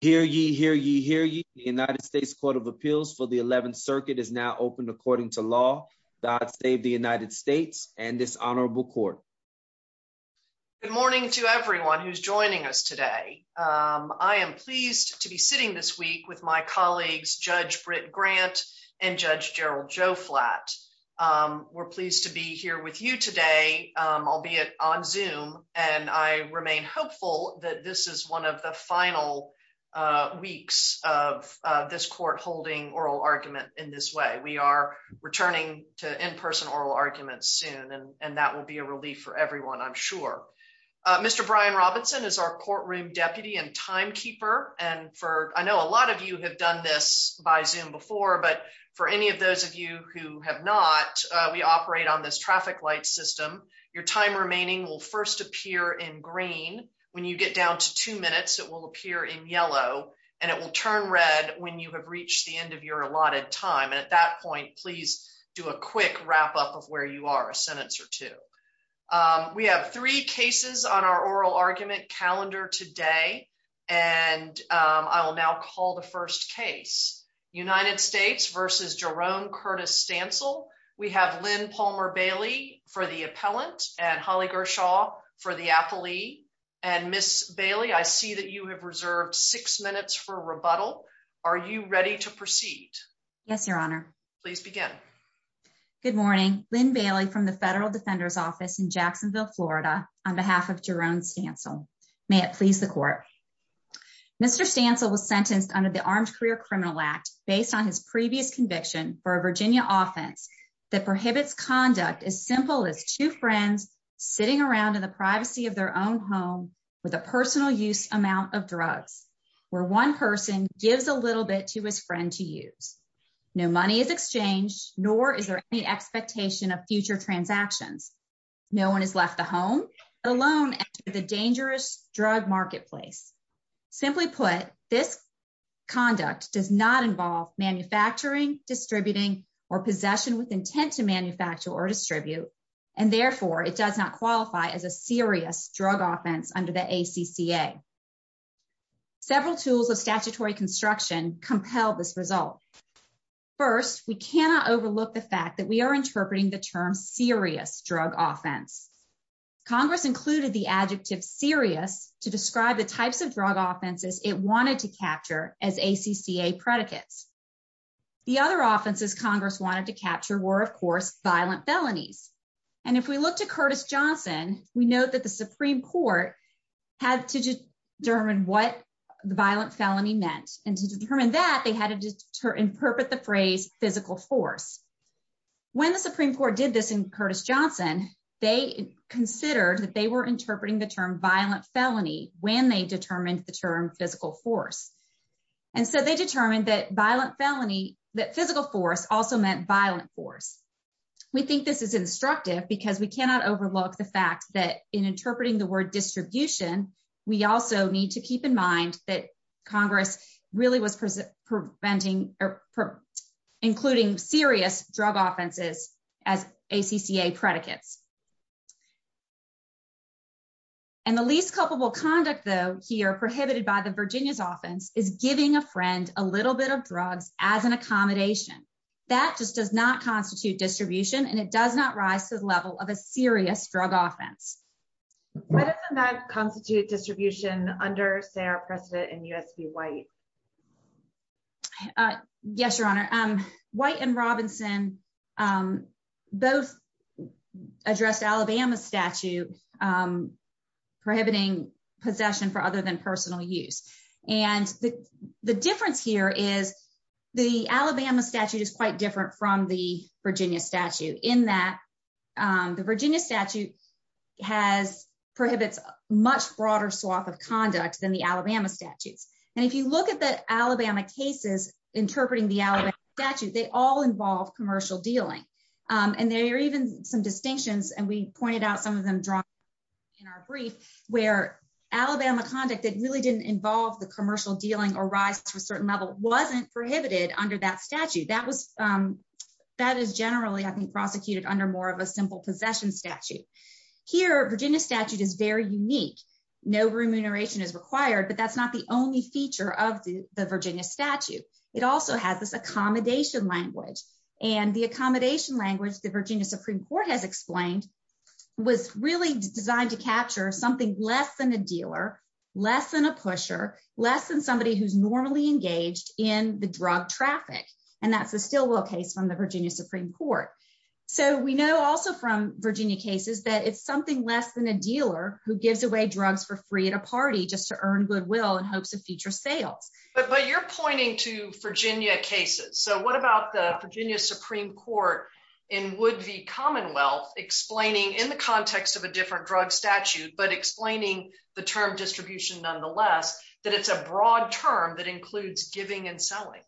Hear ye, hear ye, hear ye. The United States Court of Appeals for the 11th Circuit is now open according to law. God save the United States and this honorable court. Good morning to everyone who's joining us today. I am pleased to be sitting this week with my colleagues Judge Britt Grant and Judge Gerald Joflat. We're pleased to be here with you today, albeit on Zoom, and I remain hopeful that this is one of the final weeks of this court holding oral argument in this way. We are returning to in-person oral arguments soon, and that will be a relief for everyone, I'm sure. Mr. Brian Robinson is our courtroom deputy and timekeeper, and I know a lot of you have done this by Zoom before, but for any of those of you who have not, we operate on this traffic light system. Your time remaining will first appear in green. When you get down to two minutes, it will appear in yellow, and it will turn red when you have reached the end of your allotted time, and at that point, please do a quick wrap-up of where you are, a sentence or two. We have three cases on our oral argument calendar today, and I will now call the court to order. We have Lynn Palmer Bailey for the appellant and Holly Gershaw for the appellee, and Ms. Bailey, I see that you have reserved six minutes for rebuttal. Are you ready to proceed? Yes, Your Honor. Please begin. Good morning. Lynn Bailey from the Federal Defender's Office in Jacksonville, Florida, on behalf of Jerome Stancil. May it please the court. Mr. Stancil was sentenced under the Armed Career Criminal Act based on his previous conviction for a Virginia offense that prohibits conduct as simple as two friends sitting around in the privacy of their own home with a personal use amount of drugs, where one person gives a little bit to his friend to use. No money is exchanged, nor is there any expectation of future transactions. No one has left the home, let alone enter the dangerous drug marketplace. Simply put, this conduct does not manufacturing, distributing, or possession with intent to manufacture or distribute, and therefore it does not qualify as a serious drug offense under the ACCA. Several tools of statutory construction compel this result. First, we cannot overlook the fact that we are interpreting the term serious drug offense. Congress included the adjective serious to describe the types of drug offenses it wanted to capture as ACCA predicates. The other offenses Congress wanted to capture were, of course, violent felonies. And if we look to Curtis Johnson, we note that the Supreme Court had to determine what the violent felony meant. And to determine that, they had to interpret the phrase physical force. When the Supreme Court did this in Curtis when they determined the term physical force. And so they determined that violent felony, that physical force also meant violent force. We think this is instructive because we cannot overlook the fact that in interpreting the word distribution, we also need to keep in mind that Congress really was preventing or including serious drug offenses as ACCA predicates. And the least culpable conduct, though, here prohibited by the Virginia's offense is giving a friend a little bit of drugs as an accommodation. That just does not constitute distribution, and it does not rise to the level of a serious drug offense. Why doesn't that constitute distribution under Sarah Preston and USP White? Yes, Your Honor, White and Robinson both addressed Alabama statute prohibiting possession for other than personal use. And the difference here is the Alabama statute is quite different from the Virginia statute in that the Virginia statute has prohibits much broader swath of conduct than the Alabama statutes. And if you look at the Alabama cases interpreting the Alabama statute, they all involve commercial dealing. And there are even some distinctions, and we pointed out some of them drawn in our brief, where Alabama conduct that really didn't involve the commercial dealing or rise to a certain level wasn't prohibited under that statute. That is generally, I think, prosecuted under more of simple possession statute. Here, Virginia statute is very unique. No remuneration is required, but that's not the only feature of the Virginia statute. It also has this accommodation language. And the accommodation language, the Virginia Supreme Court has explained, was really designed to capture something less than a dealer, less than a pusher, less than somebody who's normally engaged in the drug traffic. And that's the Stillwell case from Virginia Supreme Court. So we know also from Virginia cases that it's something less than a dealer who gives away drugs for free at a party just to earn goodwill in hopes of future sales. But you're pointing to Virginia cases. So what about the Virginia Supreme Court in Wood v. Commonwealth explaining in the context of a different drug statute, but explaining the term distribution nonetheless, that it's a broad term that includes giving and selling?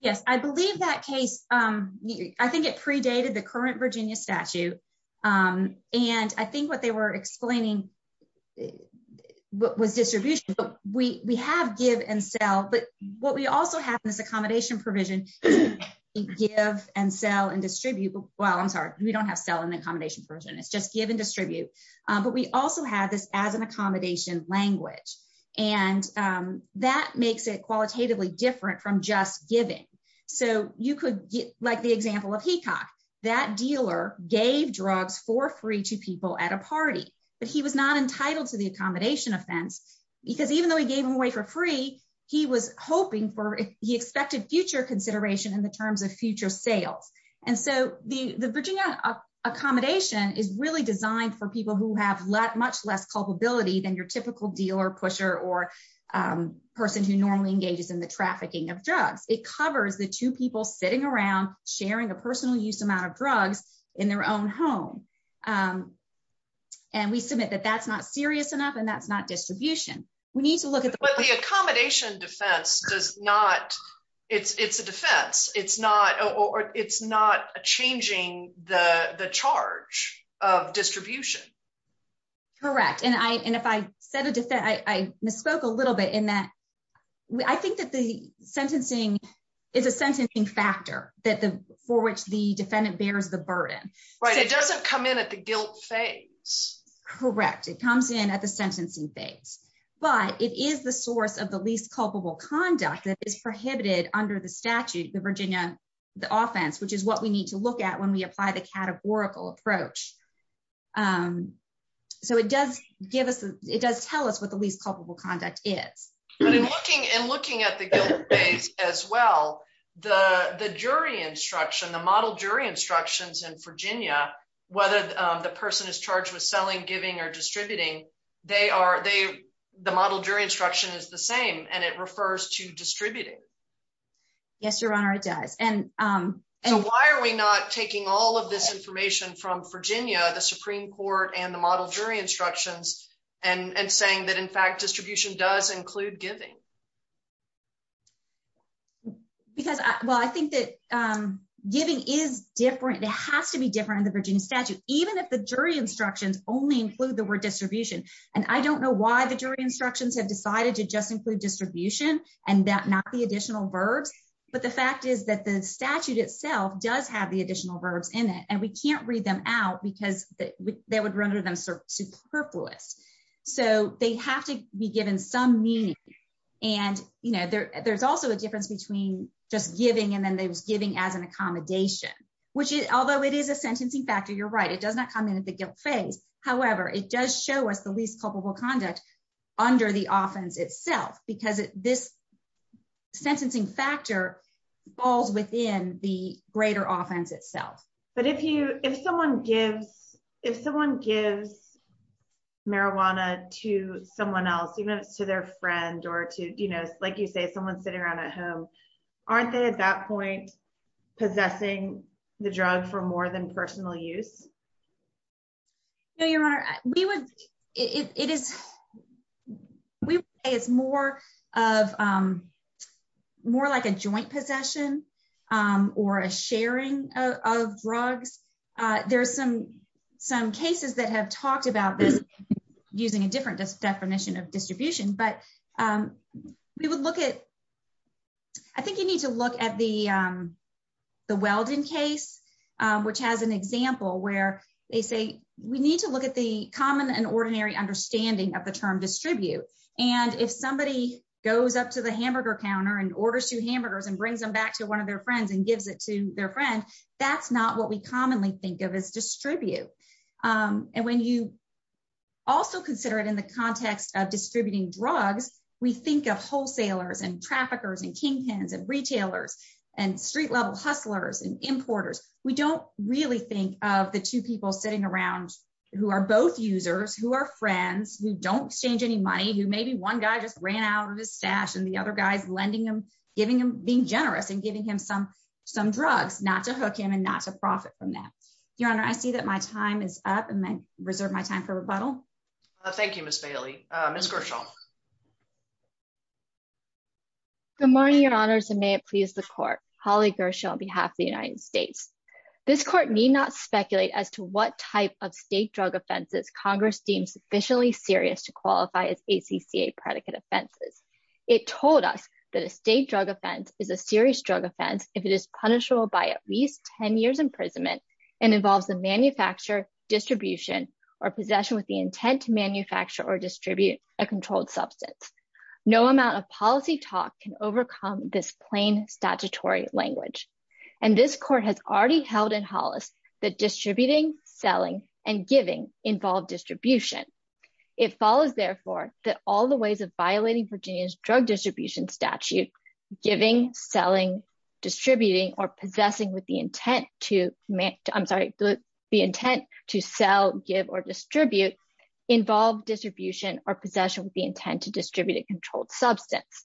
Yes, I believe that case. I think it predated the current Virginia statute. And I think what they were explaining was distribution. But we have give and sell. But what we also have in this accommodation provision is give and sell and distribute. Well, I'm sorry, we don't have sell in the accommodation provision. It's just give and distribute. But we also have this as an accommodation language. And that makes it qualitatively different from just giving. So you could get like the example of Hecox, that dealer gave drugs for free to people at a party. But he was not entitled to the accommodation offense. Because even though he gave him away for free, he was hoping for he expected future consideration in the terms of future sales. And so the the Virginia accommodation is really designed for people who have lot much less culpability than your typical dealer pusher or person who normally engages in the trafficking of drugs, it covers the two people sitting around sharing a personal use amount of drugs in their own home. And we submit that that's not serious enough. And that's not distribution, we need to look at the accommodation defense does not. It's it's a defense. It's not or it's not changing the the charge of distribution. Correct. And I and if I said a defense, I misspoke a little bit in that. I think that the sentencing is a sentencing factor that the for which the defendant bears the burden, right? It doesn't come in at the guilt phase. Correct. It comes in at the sentencing phase. But it is the source of the least culpable conduct that is prohibited under the statute, the Virginia, the offense, which is what we need to look at when we apply the categorical approach. So it does give us it does tell us what the least culpable conduct is. But in looking and looking at the guilt phase as well, the the jury instruction, the model jury instructions in Virginia, whether the person is charged with selling, giving or distributing, they are they the model jury instruction is the same and it refers to distributing. Yes, Your Honor, it does. And why are we not taking all of this information from Virginia, the Supreme Court and the model jury instructions and saying that, in fact, distribution does include giving? Because, well, I think that giving is different. It has to be different in the Virginia statute, even if the jury instructions only include the word distribution. And I don't know why the jury have decided to just include distribution and that not the additional verbs. But the fact is that the statute itself does have the additional verbs in it and we can't read them out because that would render them superfluous. So they have to be given some meaning. And, you know, there's also a difference between just giving and then they was giving as an accommodation, which is although it is a sentencing factor. You're right. It does not come in at the guilt phase. However, it does show us the least culpable conduct under the offense itself because this sentencing factor falls within the greater offense itself. But if you if someone gives if someone gives marijuana to someone else, even to their friend or to, you know, like you say, someone sitting around at home, aren't they at that point possessing the drug for more than personal use? No, your honor, we would it is we say it's more of more like a joint possession or a sharing of drugs. There's some some cases that have talked about this using a different definition of distribution, but we would look at. I think you need to look at the the welding case, which has an example where they say we need to look at the common and ordinary understanding of the term distribute. And if somebody goes up to the hamburger counter and orders two hamburgers and brings them back to one of their friends and gives it to their friend, that's not what we commonly think of as distribute. And when you also consider it in the context of distributing drugs, we think of wholesalers and traffickers and kingpins and retailers and street level hustlers and importers. We don't really think of the two people sitting around who are both users, who are friends, who don't change any money, who maybe one guy just ran out of his stash and the other guys lending him, giving him being generous and giving him some some drugs not to hook him and not to profit from that. Your honor, I see that my time is up and I reserve my time for rebuttal. Thank you, Miss Bailey. Miss Gershaw. Good morning, your honors, and may it please the court. Holly Gershaw on behalf of the United States. This court need not speculate as to what type of state drug offenses Congress deems officially serious to qualify as ACCA predicate offenses. It told us that a state drug offense is a serious drug offense if it is punishable by at least 10 years imprisonment and involves the manufacture, distribution, or possession with the intent to manufacture or distribute a controlled substance. No amount of policy talk can overcome this plain statutory language. And this court has already held in Hollis that distributing, selling, and giving involve distribution. It follows, therefore, that all the ways of violating Virginia's drug distribution statute, giving, selling, distributing, or possessing with the intent to, I'm sorry, the intent to sell, give, or distribute involve distribution or possession with the intent to distribute a controlled substance.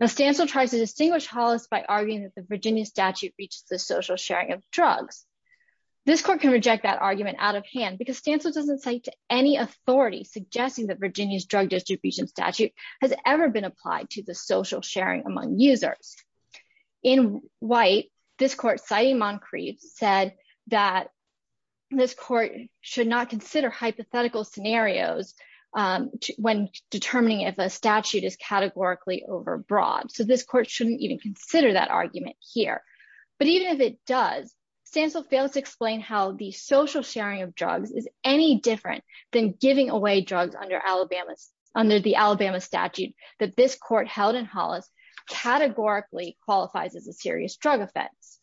Now, Stancil tries to distinguish Hollis by arguing that the Virginia statute reaches the social sharing of drugs. This court can reject that argument out of hand because Stancil doesn't say to any authority suggesting that Virginia's drug distribution statute has ever been applied to the social sharing among users. In white, this court, citing Moncrief, said that this court should not consider hypothetical scenarios when determining if a statute is categorically overbroad. So this court shouldn't even consider that argument here. But even if it does, Stancil fails to explain how the social sharing of drugs is any different than giving away drugs under Alabama's, under the Alabama statute that this qualifies as a serious drug offense.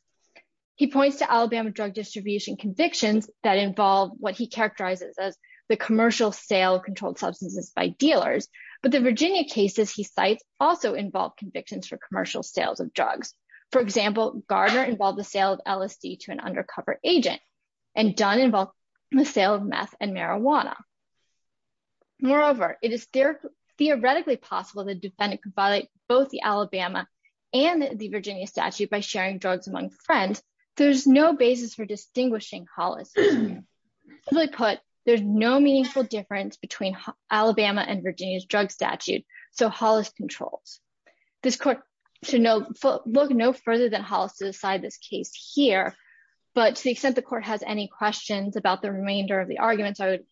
He points to Alabama drug distribution convictions that involve what he characterizes as the commercial sale of controlled substances by dealers, but the Virginia cases he cites also involve convictions for commercial sales of drugs. For example, Gardner involved the sale of LSD to an undercover agent, and Dunn involved the sale of meth and marijuana. Moreover, it is theoretically possible the defendant could violate both the Virginia statute by sharing drugs among friends. There's no basis for distinguishing Hollis. Simply put, there's no meaningful difference between Alabama and Virginia's drug statute, so Hollis controls. This court should look no further than Hollis to decide this case here, but to the extent the court has any questions about the remainder of the arguments, I would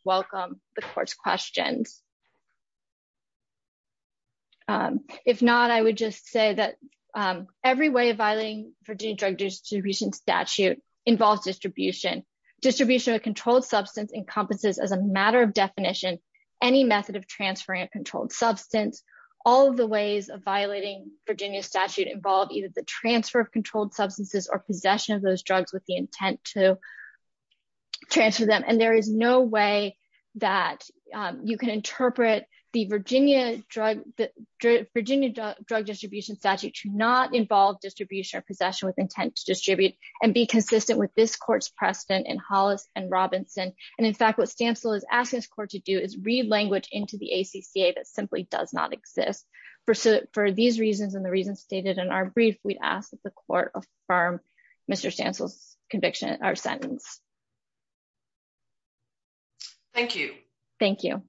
Every way of violating Virginia drug distribution statute involves distribution. Distribution of a controlled substance encompasses, as a matter of definition, any method of transferring a controlled substance. All of the ways of violating Virginia statute involve either the transfer of controlled substances or possession of those drugs with the intent to transfer them, and there is no that you can interpret the Virginia drug distribution statute to not involve distribution or possession with intent to distribute and be consistent with this court's precedent in Hollis and Robinson, and in fact what Stansel is asking this court to do is read language into the ACCA that simply does not exist. For these reasons and the reasons stated in our brief, we'd ask the court affirm Mr. Stansel's conviction or sentence. Thank you. Thank you.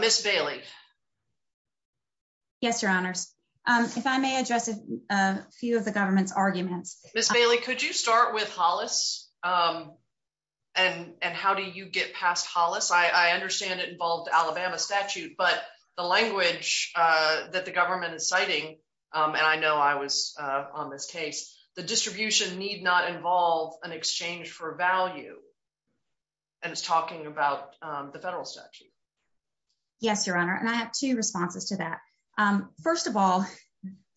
Ms. Bailey. Yes, your honors. If I may address a few of the government's arguments. Ms. Bailey, could you start with Hollis and how do you get past Hollis? I understand it involved Alabama statute, but the language that the government is citing, and I know I was on this case, the distribution need not involve an exchange for value, and it's talking about the federal statute. Yes, your honor, and I have two responses to that. First of all,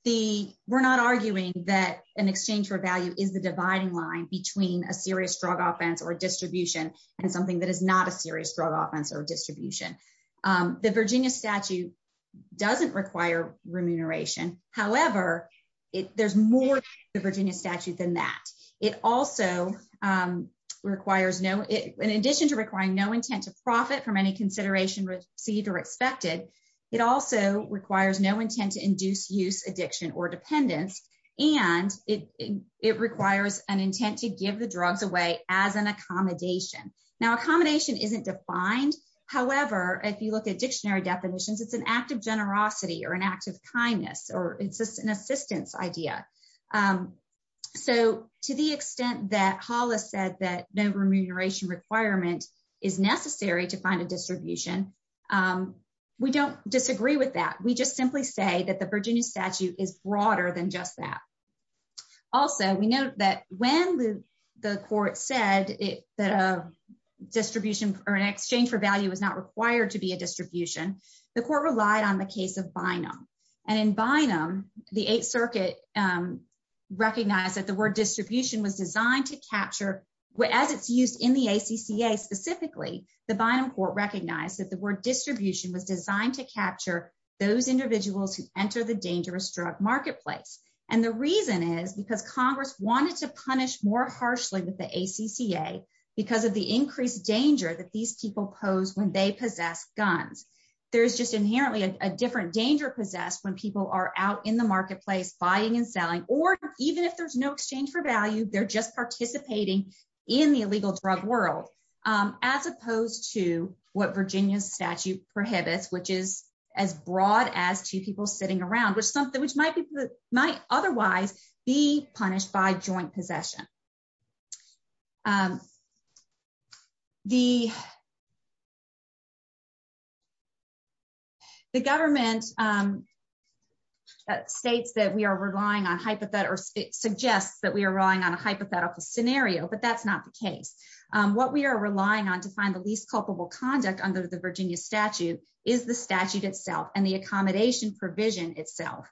we're not arguing that an exchange for value is the dividing line between a serious drug offense or distribution and something that is not a serious drug offense or distribution. The Virginia statute doesn't require remuneration. However, there's more to the Virginia statute than that. It also requires, in addition to requiring no intent to profit from any consideration received or expected, it also requires no intent to induce use, addiction, or dependence, and it requires an isn't defined. However, if you look at dictionary definitions, it's an act of generosity or an act of kindness, or it's just an assistance idea. So to the extent that Hollis said that no remuneration requirement is necessary to find a distribution, we don't disagree with that. We just simply say that the Virginia statute is broader than just that. Also, we know that when the court said that a distribution or an exchange for value was not required to be a distribution, the court relied on the case of Bynum. And in Bynum, the Eighth Circuit recognized that the word distribution was designed to capture, as it's used in the ACCA specifically, the Bynum court recognized that the word distribution was designed to capture those individuals who enter the dangerous drug marketplace. And the reason is because Congress wanted to punish more harshly with the ACCA because of the increased danger that these people pose when they possess guns. There's just inherently a different danger possessed when people are out in the marketplace buying and selling, or even if there's no exchange for value, they're just participating in the illegal drug world, as opposed to what Virginia statute prohibits, which is as broad as two people sitting around, which might otherwise be punished by joint possession. The government states that we are relying on hypothetical, or it suggests that we are relying on a hypothetical scenario, but that's not the case. What we are relying on to find the least provision itself.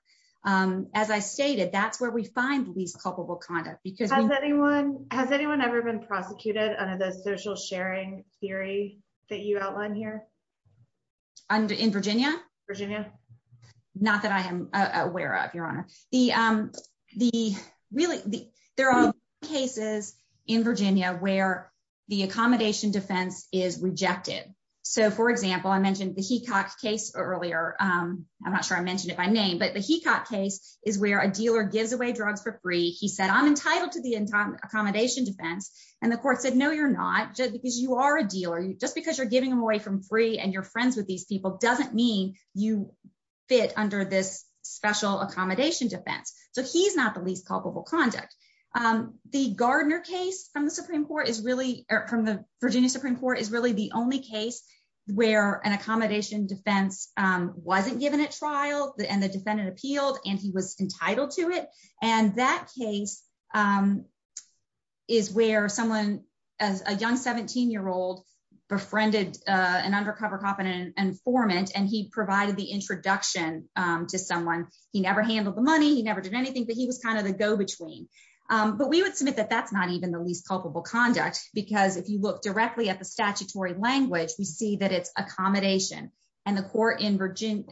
As I stated, that's where we find least culpable conduct. Has anyone ever been prosecuted under the social sharing theory that you outline here? In Virginia? Virginia. Not that I am aware of, Your Honor. There are cases in Virginia where the accommodation defense is rejected. For example, I mentioned the Hecox case earlier. I'm not sure I mentioned it by name, but the Hecox case is where a dealer gives away drugs for free. He said, I'm entitled to the accommodation defense. And the court said, no, you're not, because you are a dealer, just because you're giving them away from free and you're friends with these people doesn't mean you fit under this special accommodation defense. So he's not the least culpable conduct. The Gardner case from the Supreme Court is really, from the Virginia Supreme Court, is really the only case where an accommodation defense wasn't given at trial, and the defendant appealed, and he was entitled to it. And that case is where someone, a young 17-year-old, befriended an undercover cop and informant, and he provided the introduction to someone. He never handled the money, he never did anything, but he was kind of the go-between. But we would submit that that's not even the least culpable conduct, because if you look directly at the statutory language, we see that it's accommodation. And the court in Virginia,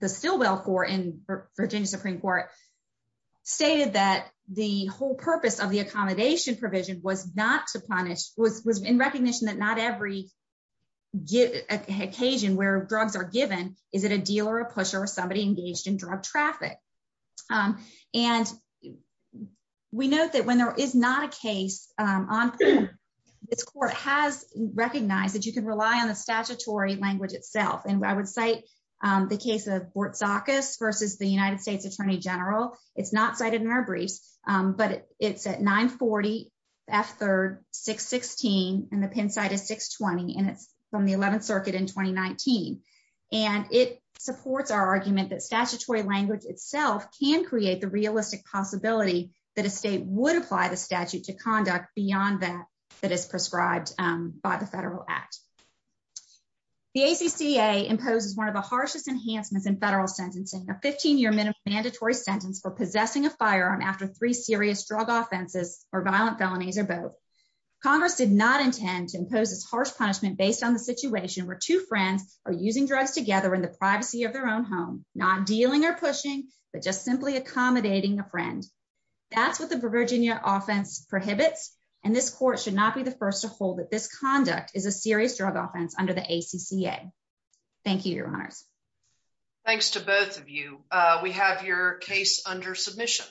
the Stilwell court in Virginia Supreme Court, stated that the whole purpose of the accommodation provision was not to punish, was in recognition that not every occasion where drugs are given is it a dealer, a pusher, or somebody engaged in drug traffic. And we note that when there is not a case on pen, this court has recognized that you can rely on the statutory language itself. And I would cite the case of Bortzakis versus the United States Attorney General. It's not cited in our briefs, but it's at 940 F3rd 616, and the pen side is 620, and it's from the 11th It supports our argument that statutory language itself can create the realistic possibility that a state would apply the statute to conduct beyond that that is prescribed by the federal act. The ACCA imposes one of the harshest enhancements in federal sentencing, a 15-year mandatory sentence for possessing a firearm after three serious drug offenses or violent felonies or both. Congress did not intend to impose this harsh punishment based on the situation where two together in the privacy of their own home, not dealing or pushing, but just simply accommodating a friend. That's what the Virginia offense prohibits, and this court should not be the first to hold that this conduct is a serious drug offense under the ACCA. Thank you, Your Honors. Thanks to both of you. We have your case under submission.